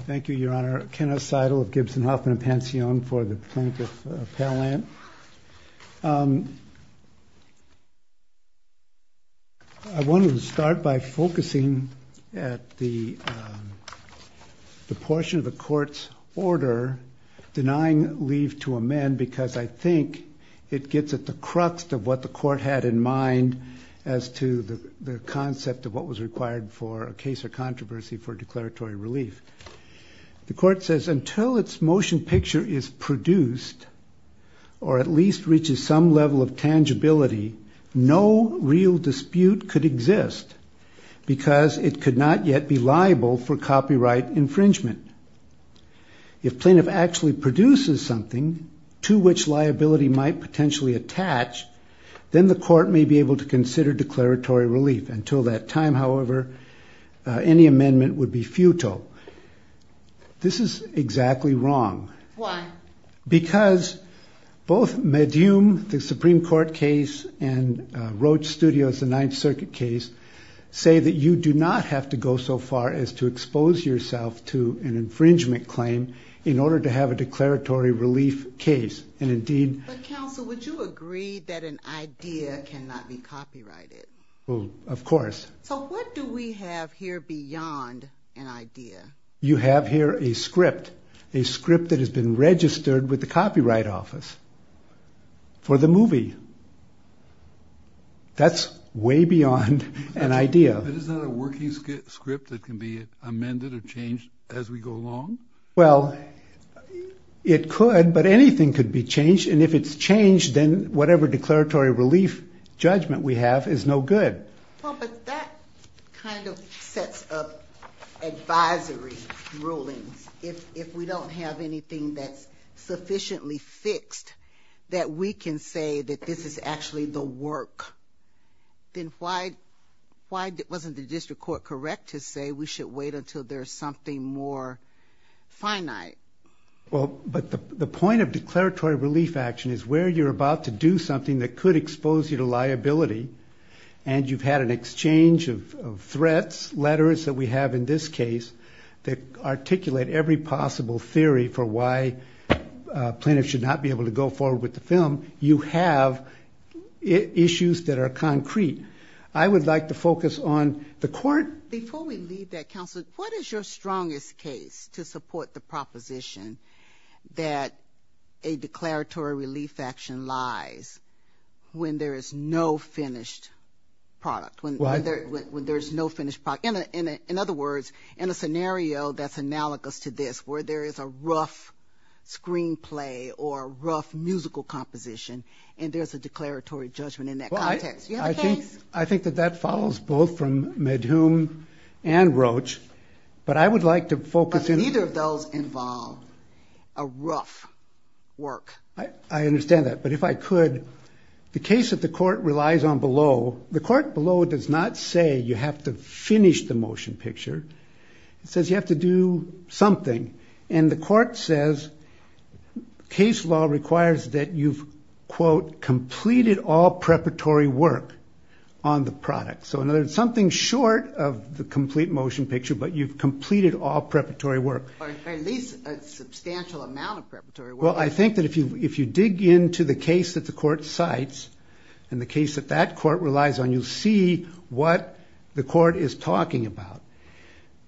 Thank you, Your Honor. Kenneth Seidel of Gibson Hoffman & Pansion for the plaintiff appellant. I wanted to start by focusing at the portion of the court's order denying leave to amend, because I think it gets at the crux of what the court had in mind as to the concept of what was required for a case of controversy for declaratory relief. The court says, until its motion picture is produced, or at least reaches some level of tangibility, no real dispute could exist, because it could not yet be liable for copyright infringement. If plaintiff actually produces something to which liability might potentially attach, then the court may be able to consider declaratory relief. Until that time, however, any amendment would be futile. This is exactly wrong. Why? Because both Medum, the Supreme Court case, and Roach Studios, the Ninth Circuit case, say that you do not have to go so far as to expose yourself to an infringement claim in order to have a declaratory relief case. And indeed, But counsel, would you agree that an idea cannot be copyrighted? Of course. So what do we have here beyond an idea? You have here a script, a script that has been registered with the Copyright Office for the movie. That's way beyond an idea. But isn't that a working script that can be amended or changed as we go along? Well, it could, but anything could be changed. And if it's changed, then whatever declaratory relief judgment we have is no good. Well, but that kind of sets up advisory rulings. If we don't have anything that's sufficiently fixed that we can say that this is actually the work, then why wasn't the district court correct to say we should wait until there's something more finite? Well, but the point of declaratory relief action is where you're about to do something that could expose you to liability, and you've had an exchange of threats, letters that we have in this case that articulate every possible theory for why plaintiffs should not be able to go forward with the film. You have issues that are concrete. I would like to focus on the court. Before we leave that, counsel, what is your strongest case to support the proposition that a declaratory relief action lies when there is no finished product? When there's no finished product? In other words, in a scenario that's analogous to this, where there is a rough screenplay or a rough musical composition, and there's a declaratory judgment in that context. Do you have a case? I think that that follows both from Medhume and Roach, but I would like to focus in on- But neither of those involve a rough work. I understand that, but if I could, the case that the court relies on below, the court below does not say you have to finish the motion picture. It says you have to do something. And the court says case law requires that you've, quote, completed all preparatory work on the product. So in other words, something short of the complete motion picture, but you've completed all preparatory work. Or at least a substantial amount of preparatory work. Well, I think that if you dig into the case that the court cites and the case that that court relies on, you'll see what the court is talking about.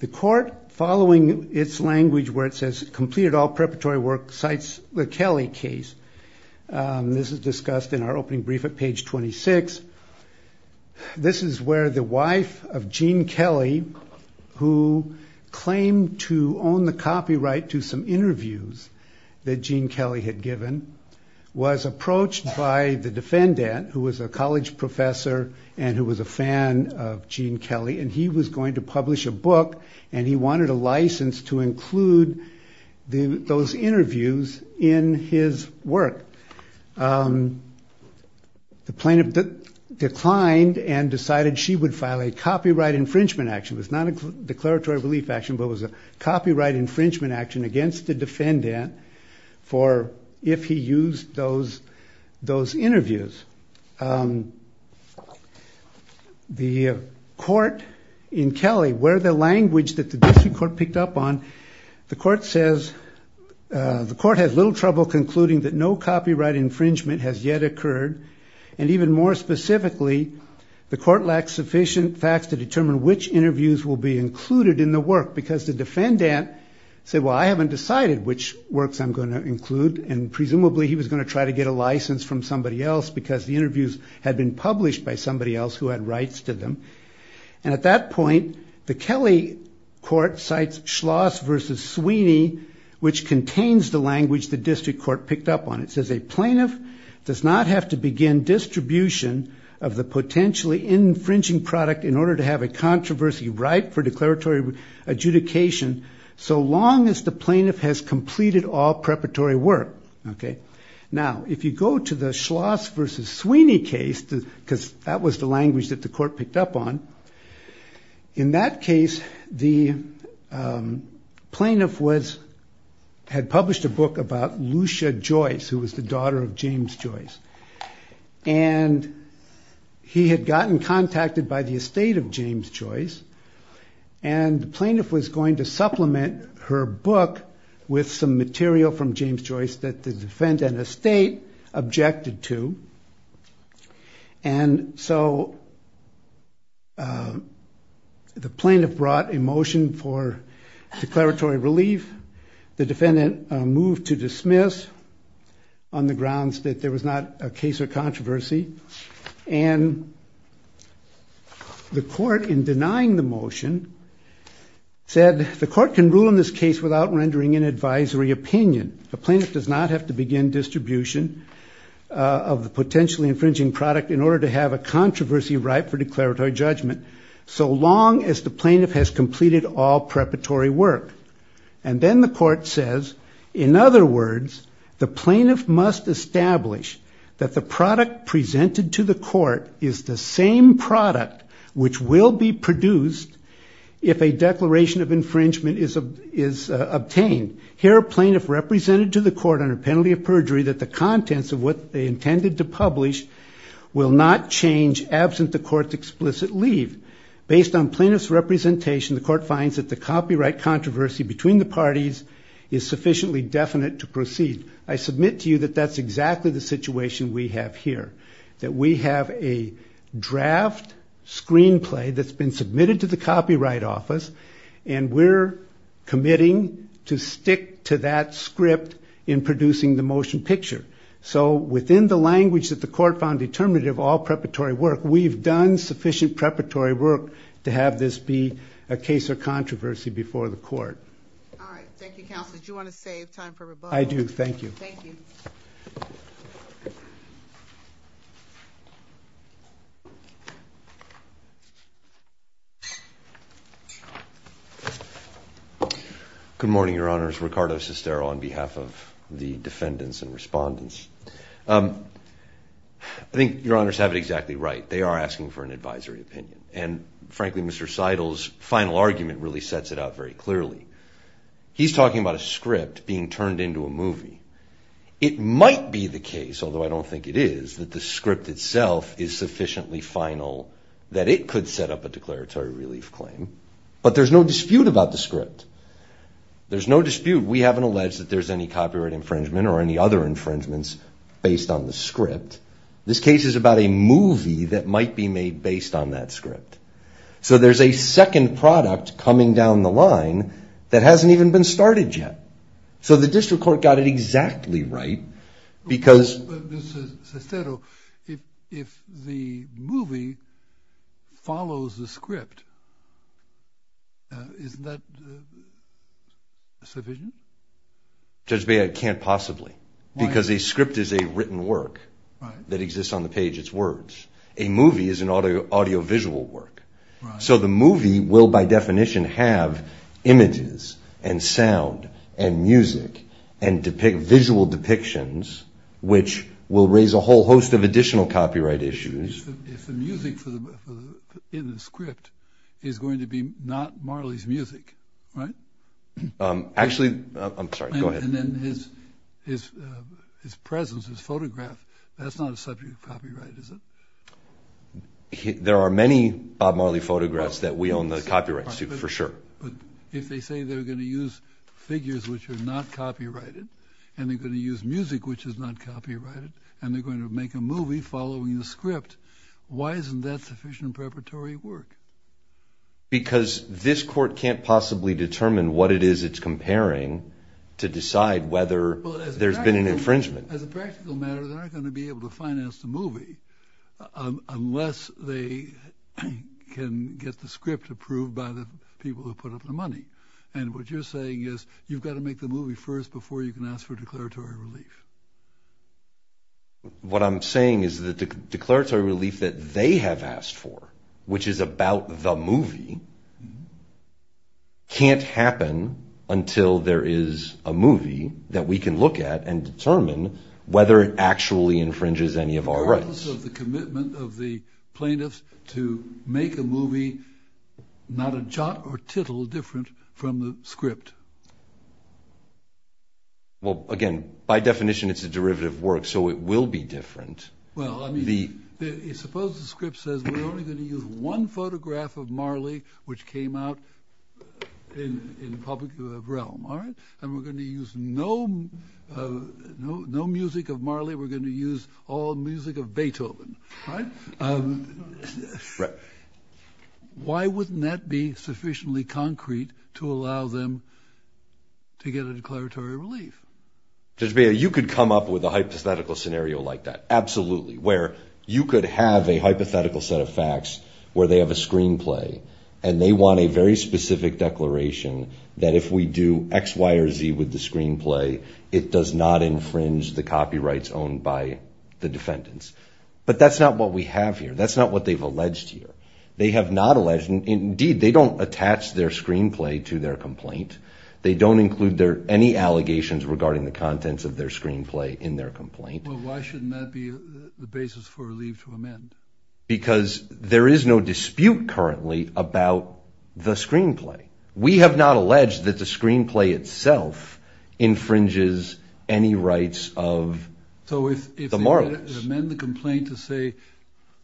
The court, following its language where it says, completed all preparatory work, cites the Kelly case. This is discussed in our opening brief at page 26. This is where the wife of Gene Kelly, who claimed to own the copyright to some interviews that Gene Kelly had given, was approached by the defendant, who was a college professor and who was a fan of Gene Kelly. And he was going to publish a book, and he wanted a license to include those interviews in his work. The plaintiff declined and decided she would file a copyright infringement action. It was not a declaratory relief action, but it was a copyright infringement action against the defendant for if he used those interviews. The court in Kelly, where the language that the district court picked up on, the court says, the court has little trouble concluding that no copyright infringement has yet occurred. And even more specifically, the court lacks sufficient facts to determine which interviews will be included in the work, because the defendant said, well, I haven't decided which works I'm going to include. And presumably, he was going to try to get a license from somebody else, because the interviews had been published by somebody else who had rights to them. And at that point, the Kelly court cites Schloss versus Sweeney, which contains the language the district court picked up on. It says, a plaintiff does not have to begin distribution of the potentially infringing product in order to have a controversy right for declaratory adjudication so long as the plaintiff has completed all preparatory work. Now, if you go to the Schloss versus Sweeney case, because that was the language that the court picked up on, in that case, the plaintiff had published a book about Lucia Joyce, who was the daughter of James Joyce. And he had gotten contacted by the estate of James Joyce. And the plaintiff was going to supplement her book with some material from James Joyce that the defendant and the estate objected to. And so the plaintiff brought a motion for declaratory relief. The defendant moved to dismiss on the grounds that there was not a case or controversy. And the court, in denying the motion, said the court can rule in this case without rendering an advisory opinion. A plaintiff does not have to begin distribution of the potentially infringing product in order to have a controversy right for declaratory judgment so long as the plaintiff has completed all preparatory work. And then the court says, in other words, the plaintiff must establish that the product presented to the court is the same product which will be produced if a declaration of infringement is obtained. Here, a plaintiff represented to the court under penalty of perjury that the contents of what they intended to publish will not change absent the court's explicit leave. Based on plaintiff's representation, the court finds that the copyright controversy between the parties is sufficiently definite to proceed. I submit to you that that's exactly the situation we have here, that we have a draft screenplay that's been submitted to the Copyright Office, and we're committing to stick to that script in producing the motion picture. So within the language that the court found determinative of all preparatory work, we've done sufficient preparatory work to have this be a case of controversy before the court. All right. Thank you, counsel. Did you want to save time for rebuttal? I do. Thank you. Thank you. Good morning, Your Honors. Ricardo Sestero on behalf of the defendants and respondents. I think Your Honors have it exactly right. They are asking for an advisory opinion. And frankly, Mr. Seidel's final argument really sets it out very clearly. He's talking about a script being turned into a movie. It might be the case, although I don't think it is, that the script itself is sufficiently final that it could set up a declaratory relief claim. But there's no dispute about the script. There's no dispute. We haven't alleged that there's any copyright infringement or any other infringements based on the script. This case is about a movie that might be made based on that script. So there's a second product coming down the line that hasn't even been started yet. So the district court got it exactly right, because- But Mr. Sestero, if the movie follows the script, isn't that sufficient? Judge, I can't possibly. Because a script is a written work that exists on the page. It's words. A movie is an audiovisual work. So the movie will, by definition, have images and sound and music and visual depictions, which will raise a whole host of additional copyright issues. If the music in the script is going to be not Marley's music, right? Actually, I'm sorry. Go ahead. And then his presence, his photograph, that's not a subject of copyright, is it? There are many Bob Marley photographs that we own the copyrights to, for sure. If they say they're going to use figures which are not copyrighted, and they're going to use music which is not copyrighted, and they're going to make a movie following the script, why isn't that sufficient preparatory work? Because this court can't possibly determine what it is it's comparing to decide whether there's been an infringement. As a practical matter, they're not going to be able to finance the movie unless they can get the script approved by the people who put up the money. And what you're saying is you've got to make the movie first before you can ask for declaratory relief. What I'm saying is the declaratory relief that they have asked for, which is about the movie, can't happen until there is a movie that we can look at and determine whether it actually infringes any of our rights. Regardless of the commitment of the plaintiffs to make a movie, not a jot or tittle different from the script. Well, again, by definition, it's a derivative work. So it will be different. Well, I mean, suppose the script says we're only going to use one photograph of Marley, which came out in public realm. And we're going to use no music of Marley. We're going to use all music of Beethoven. Why wouldn't that be sufficiently concrete to allow them to get a declaratory relief? Judge Beyer, you could come up with a hypothetical scenario like that, absolutely, where you could have a hypothetical set of facts where they have a screenplay and they want a very specific declaration that if we do x, y, or z with the screenplay, it does not infringe the copyrights owned by the defendants. But that's not what we have here. That's not what they've alleged here. They have not alleged. Indeed, they don't attach their screenplay to their complaint. They don't include any allegations regarding the contents of their screenplay in their complaint. Well, why shouldn't that be the basis for a leave to amend? Because there is no dispute currently about the screenplay. We have not alleged that the screenplay itself infringes any rights of the Marleys. So if they amend the complaint to say,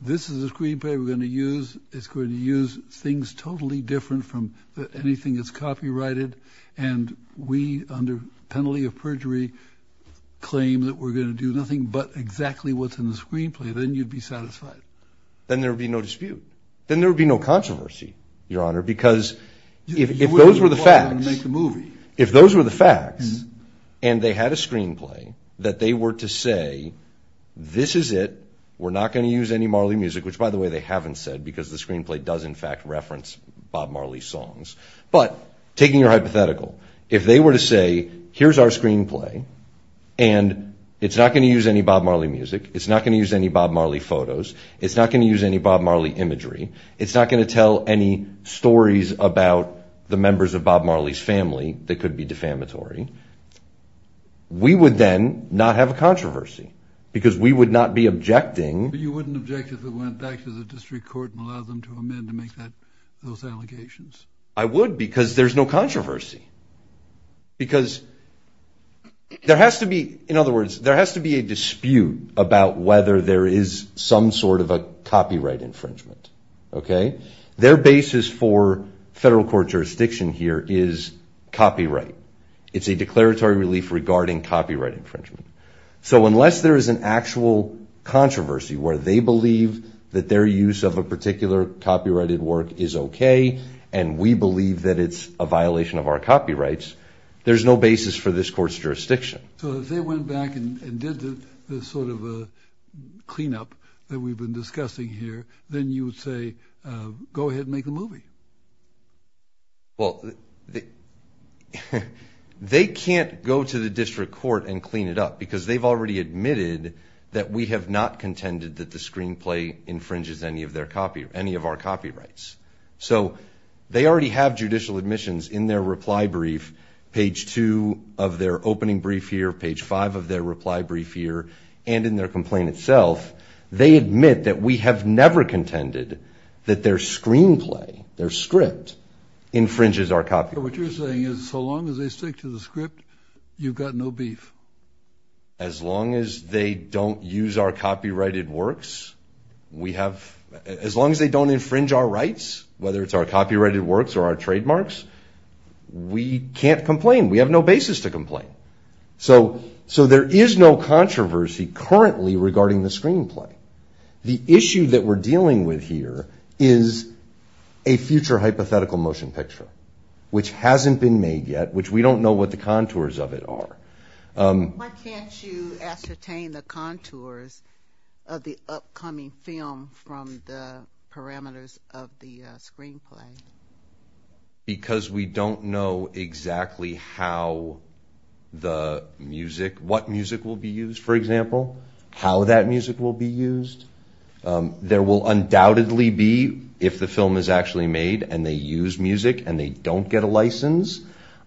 this is the screenplay we're going to use, it's going to use things totally different from anything that's copyrighted, and we, under penalty of perjury, claim that we're going to do nothing but exactly what's in the screenplay, then you'd be satisfied. Then there would be no dispute. Then there would be no controversy, Your Honor, because if those were the facts, if those were the facts, and they had a screenplay that they were to say, this is it, we're not going to use any Marley music, which, by the way, they haven't said, because the screenplay does, in fact, reference Bob Marley songs. But taking your hypothetical, if they were to say, here's our screenplay, and it's not going to use any Bob Marley music, it's not going to use any Bob Marley photos, it's not going to use any Bob Marley imagery, it's not going to tell any stories about the members of Bob Marley's family that could be defamatory, we would then not have a controversy, because we would not be objecting. But you wouldn't object if it went back to the district court and allowed them to amend to make those allegations. I would, because there's no controversy. Because there has to be, in other words, there has to be a dispute about whether there is some sort of a copyright infringement, okay? Their basis for federal court jurisdiction here is copyright. It's a declaratory relief regarding copyright infringement. So unless there is an actual controversy where they believe that their use of a particular copyrighted work is okay, and we believe that it's a violation of our copyrights, there's no basis for this court's jurisdiction. So if they went back and did the sort of a cleanup that we've been discussing here, then you would say, go ahead and make a movie. Well, they can't go to the district court and clean it up because they've already admitted that we have not contended that the screenplay infringes any of our copyrights. So they already have judicial admissions in their reply brief, page two of their opening brief here, page five of their reply brief here, and in their complaint itself, they admit that we have never contended that their screenplay, their script, infringes our copyrights. So what you're saying is so long as they stick to the script, you've got no beef. As long as they don't use our copyrighted works, we have, as long as they don't infringe our rights, whether it's our copyrighted works or our trademarks, we can't complain. We have no basis to complain. So there is no controversy currently regarding the screenplay. The issue that we're dealing with here is a future hypothetical motion picture, which hasn't been made yet, which we don't know what the contours of it are. Why can't you ascertain the contours of the upcoming film from the parameters of the screenplay? Because we don't know exactly how the music, what music will be used, for example, how that music will be used. There will undoubtedly be, if the film is actually made and they use music and they don't get a license,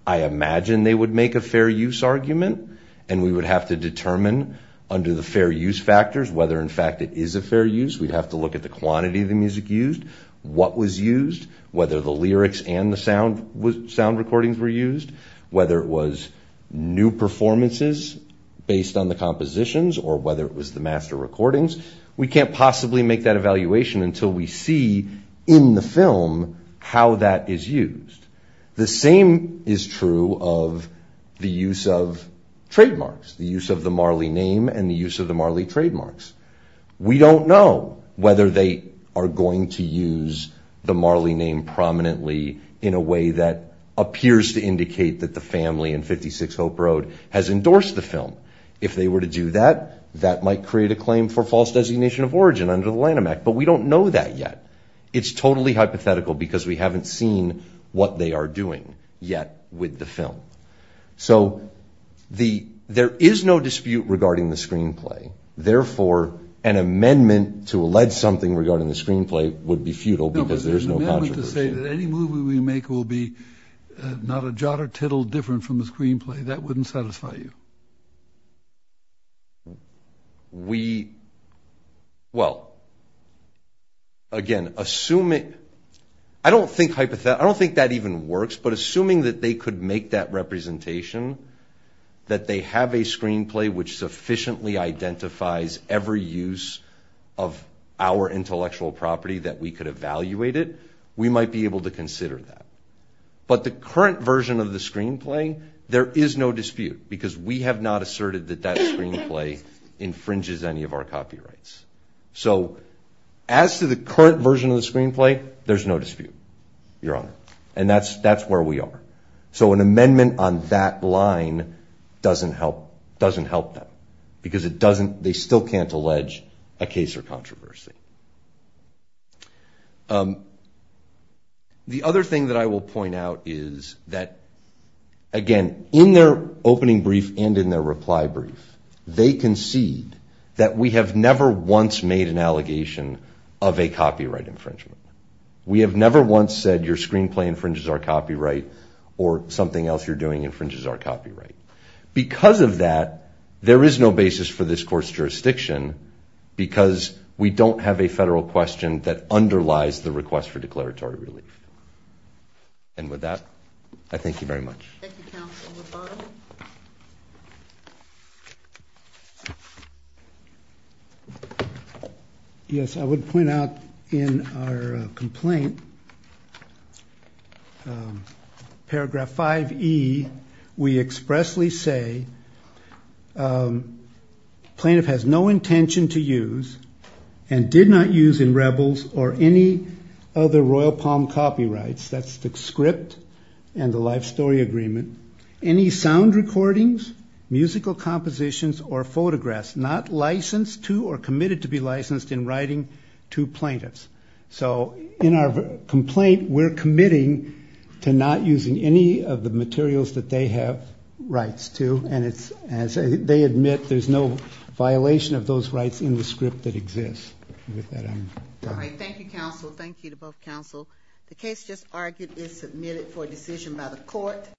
I imagine they would make a fair use argument and we would have to determine under the fair use factors, whether in fact it is a fair use. We'd have to look at the quantity of the music used, what was used, whether the lyrics and the sound recordings were used, whether it was new performances based on the compositions or whether it was the master recordings. We can't possibly make that evaluation until we see in the film how that is used. The same is true of the use of trademarks, the use of the Marley name and the use of the Marley trademarks. We don't know whether they are going to use the Marley name prominently in a way that appears to indicate that the family in 56 Hope Road has endorsed the film. If they were to do that, that might create a claim for false designation of origin under the Lanham Act, but we don't know that yet. It's totally hypothetical because we haven't seen what they are doing yet with the film. So there is no dispute regarding the screenplay. Therefore, an amendment to allege something regarding the screenplay would be futile because there's no controversy. No, but there's an amendment to say that any movie we make will be not a jot or tittle different from the screenplay. That wouldn't satisfy you. We, well, again, assuming, I don't think that even works, but assuming that they could make that representation, that they have a screenplay which sufficiently identifies every use of our intellectual property that we could evaluate it, we might be able to consider that. But the current version of the screenplay, there is no dispute because we have not asserted that that screenplay infringes any of our copyrights. So as to the current version of the screenplay, there's no dispute, Your Honor, and that's where we are. So an amendment on that line doesn't help them because they still can't allege a case or controversy. The other thing that I will point out is that, again, in their opening brief and in their reply brief, they concede that we have never once made an allegation of a copyright infringement. We have never once said your screenplay infringes our copyright, or something else you're doing infringes our copyright. Because of that, there is no basis for this court's jurisdiction because we don't have a federal question that underlies the request for declaratory relief. And with that, I thank you very much. Thank you, Counsel. Yes, I would point out in our complaint, paragraph 5E, we expressly say, plaintiff has no intention to use and did not use in Rebels or any other Royal Palm copyrights. That's the script and the life story agreement. Any sound recordings, musical compositions, or photographs not licensed to or committed to be licensed in writing to plaintiffs. So, in our complaint, we're committing to not using any of the materials that they have rights to. And as they admit, there's no violation of those rights in the script that exists. With that, I'm done. All right, thank you, Counsel. Thank you to both Counsel. The case just argued is submitted for decision by the court.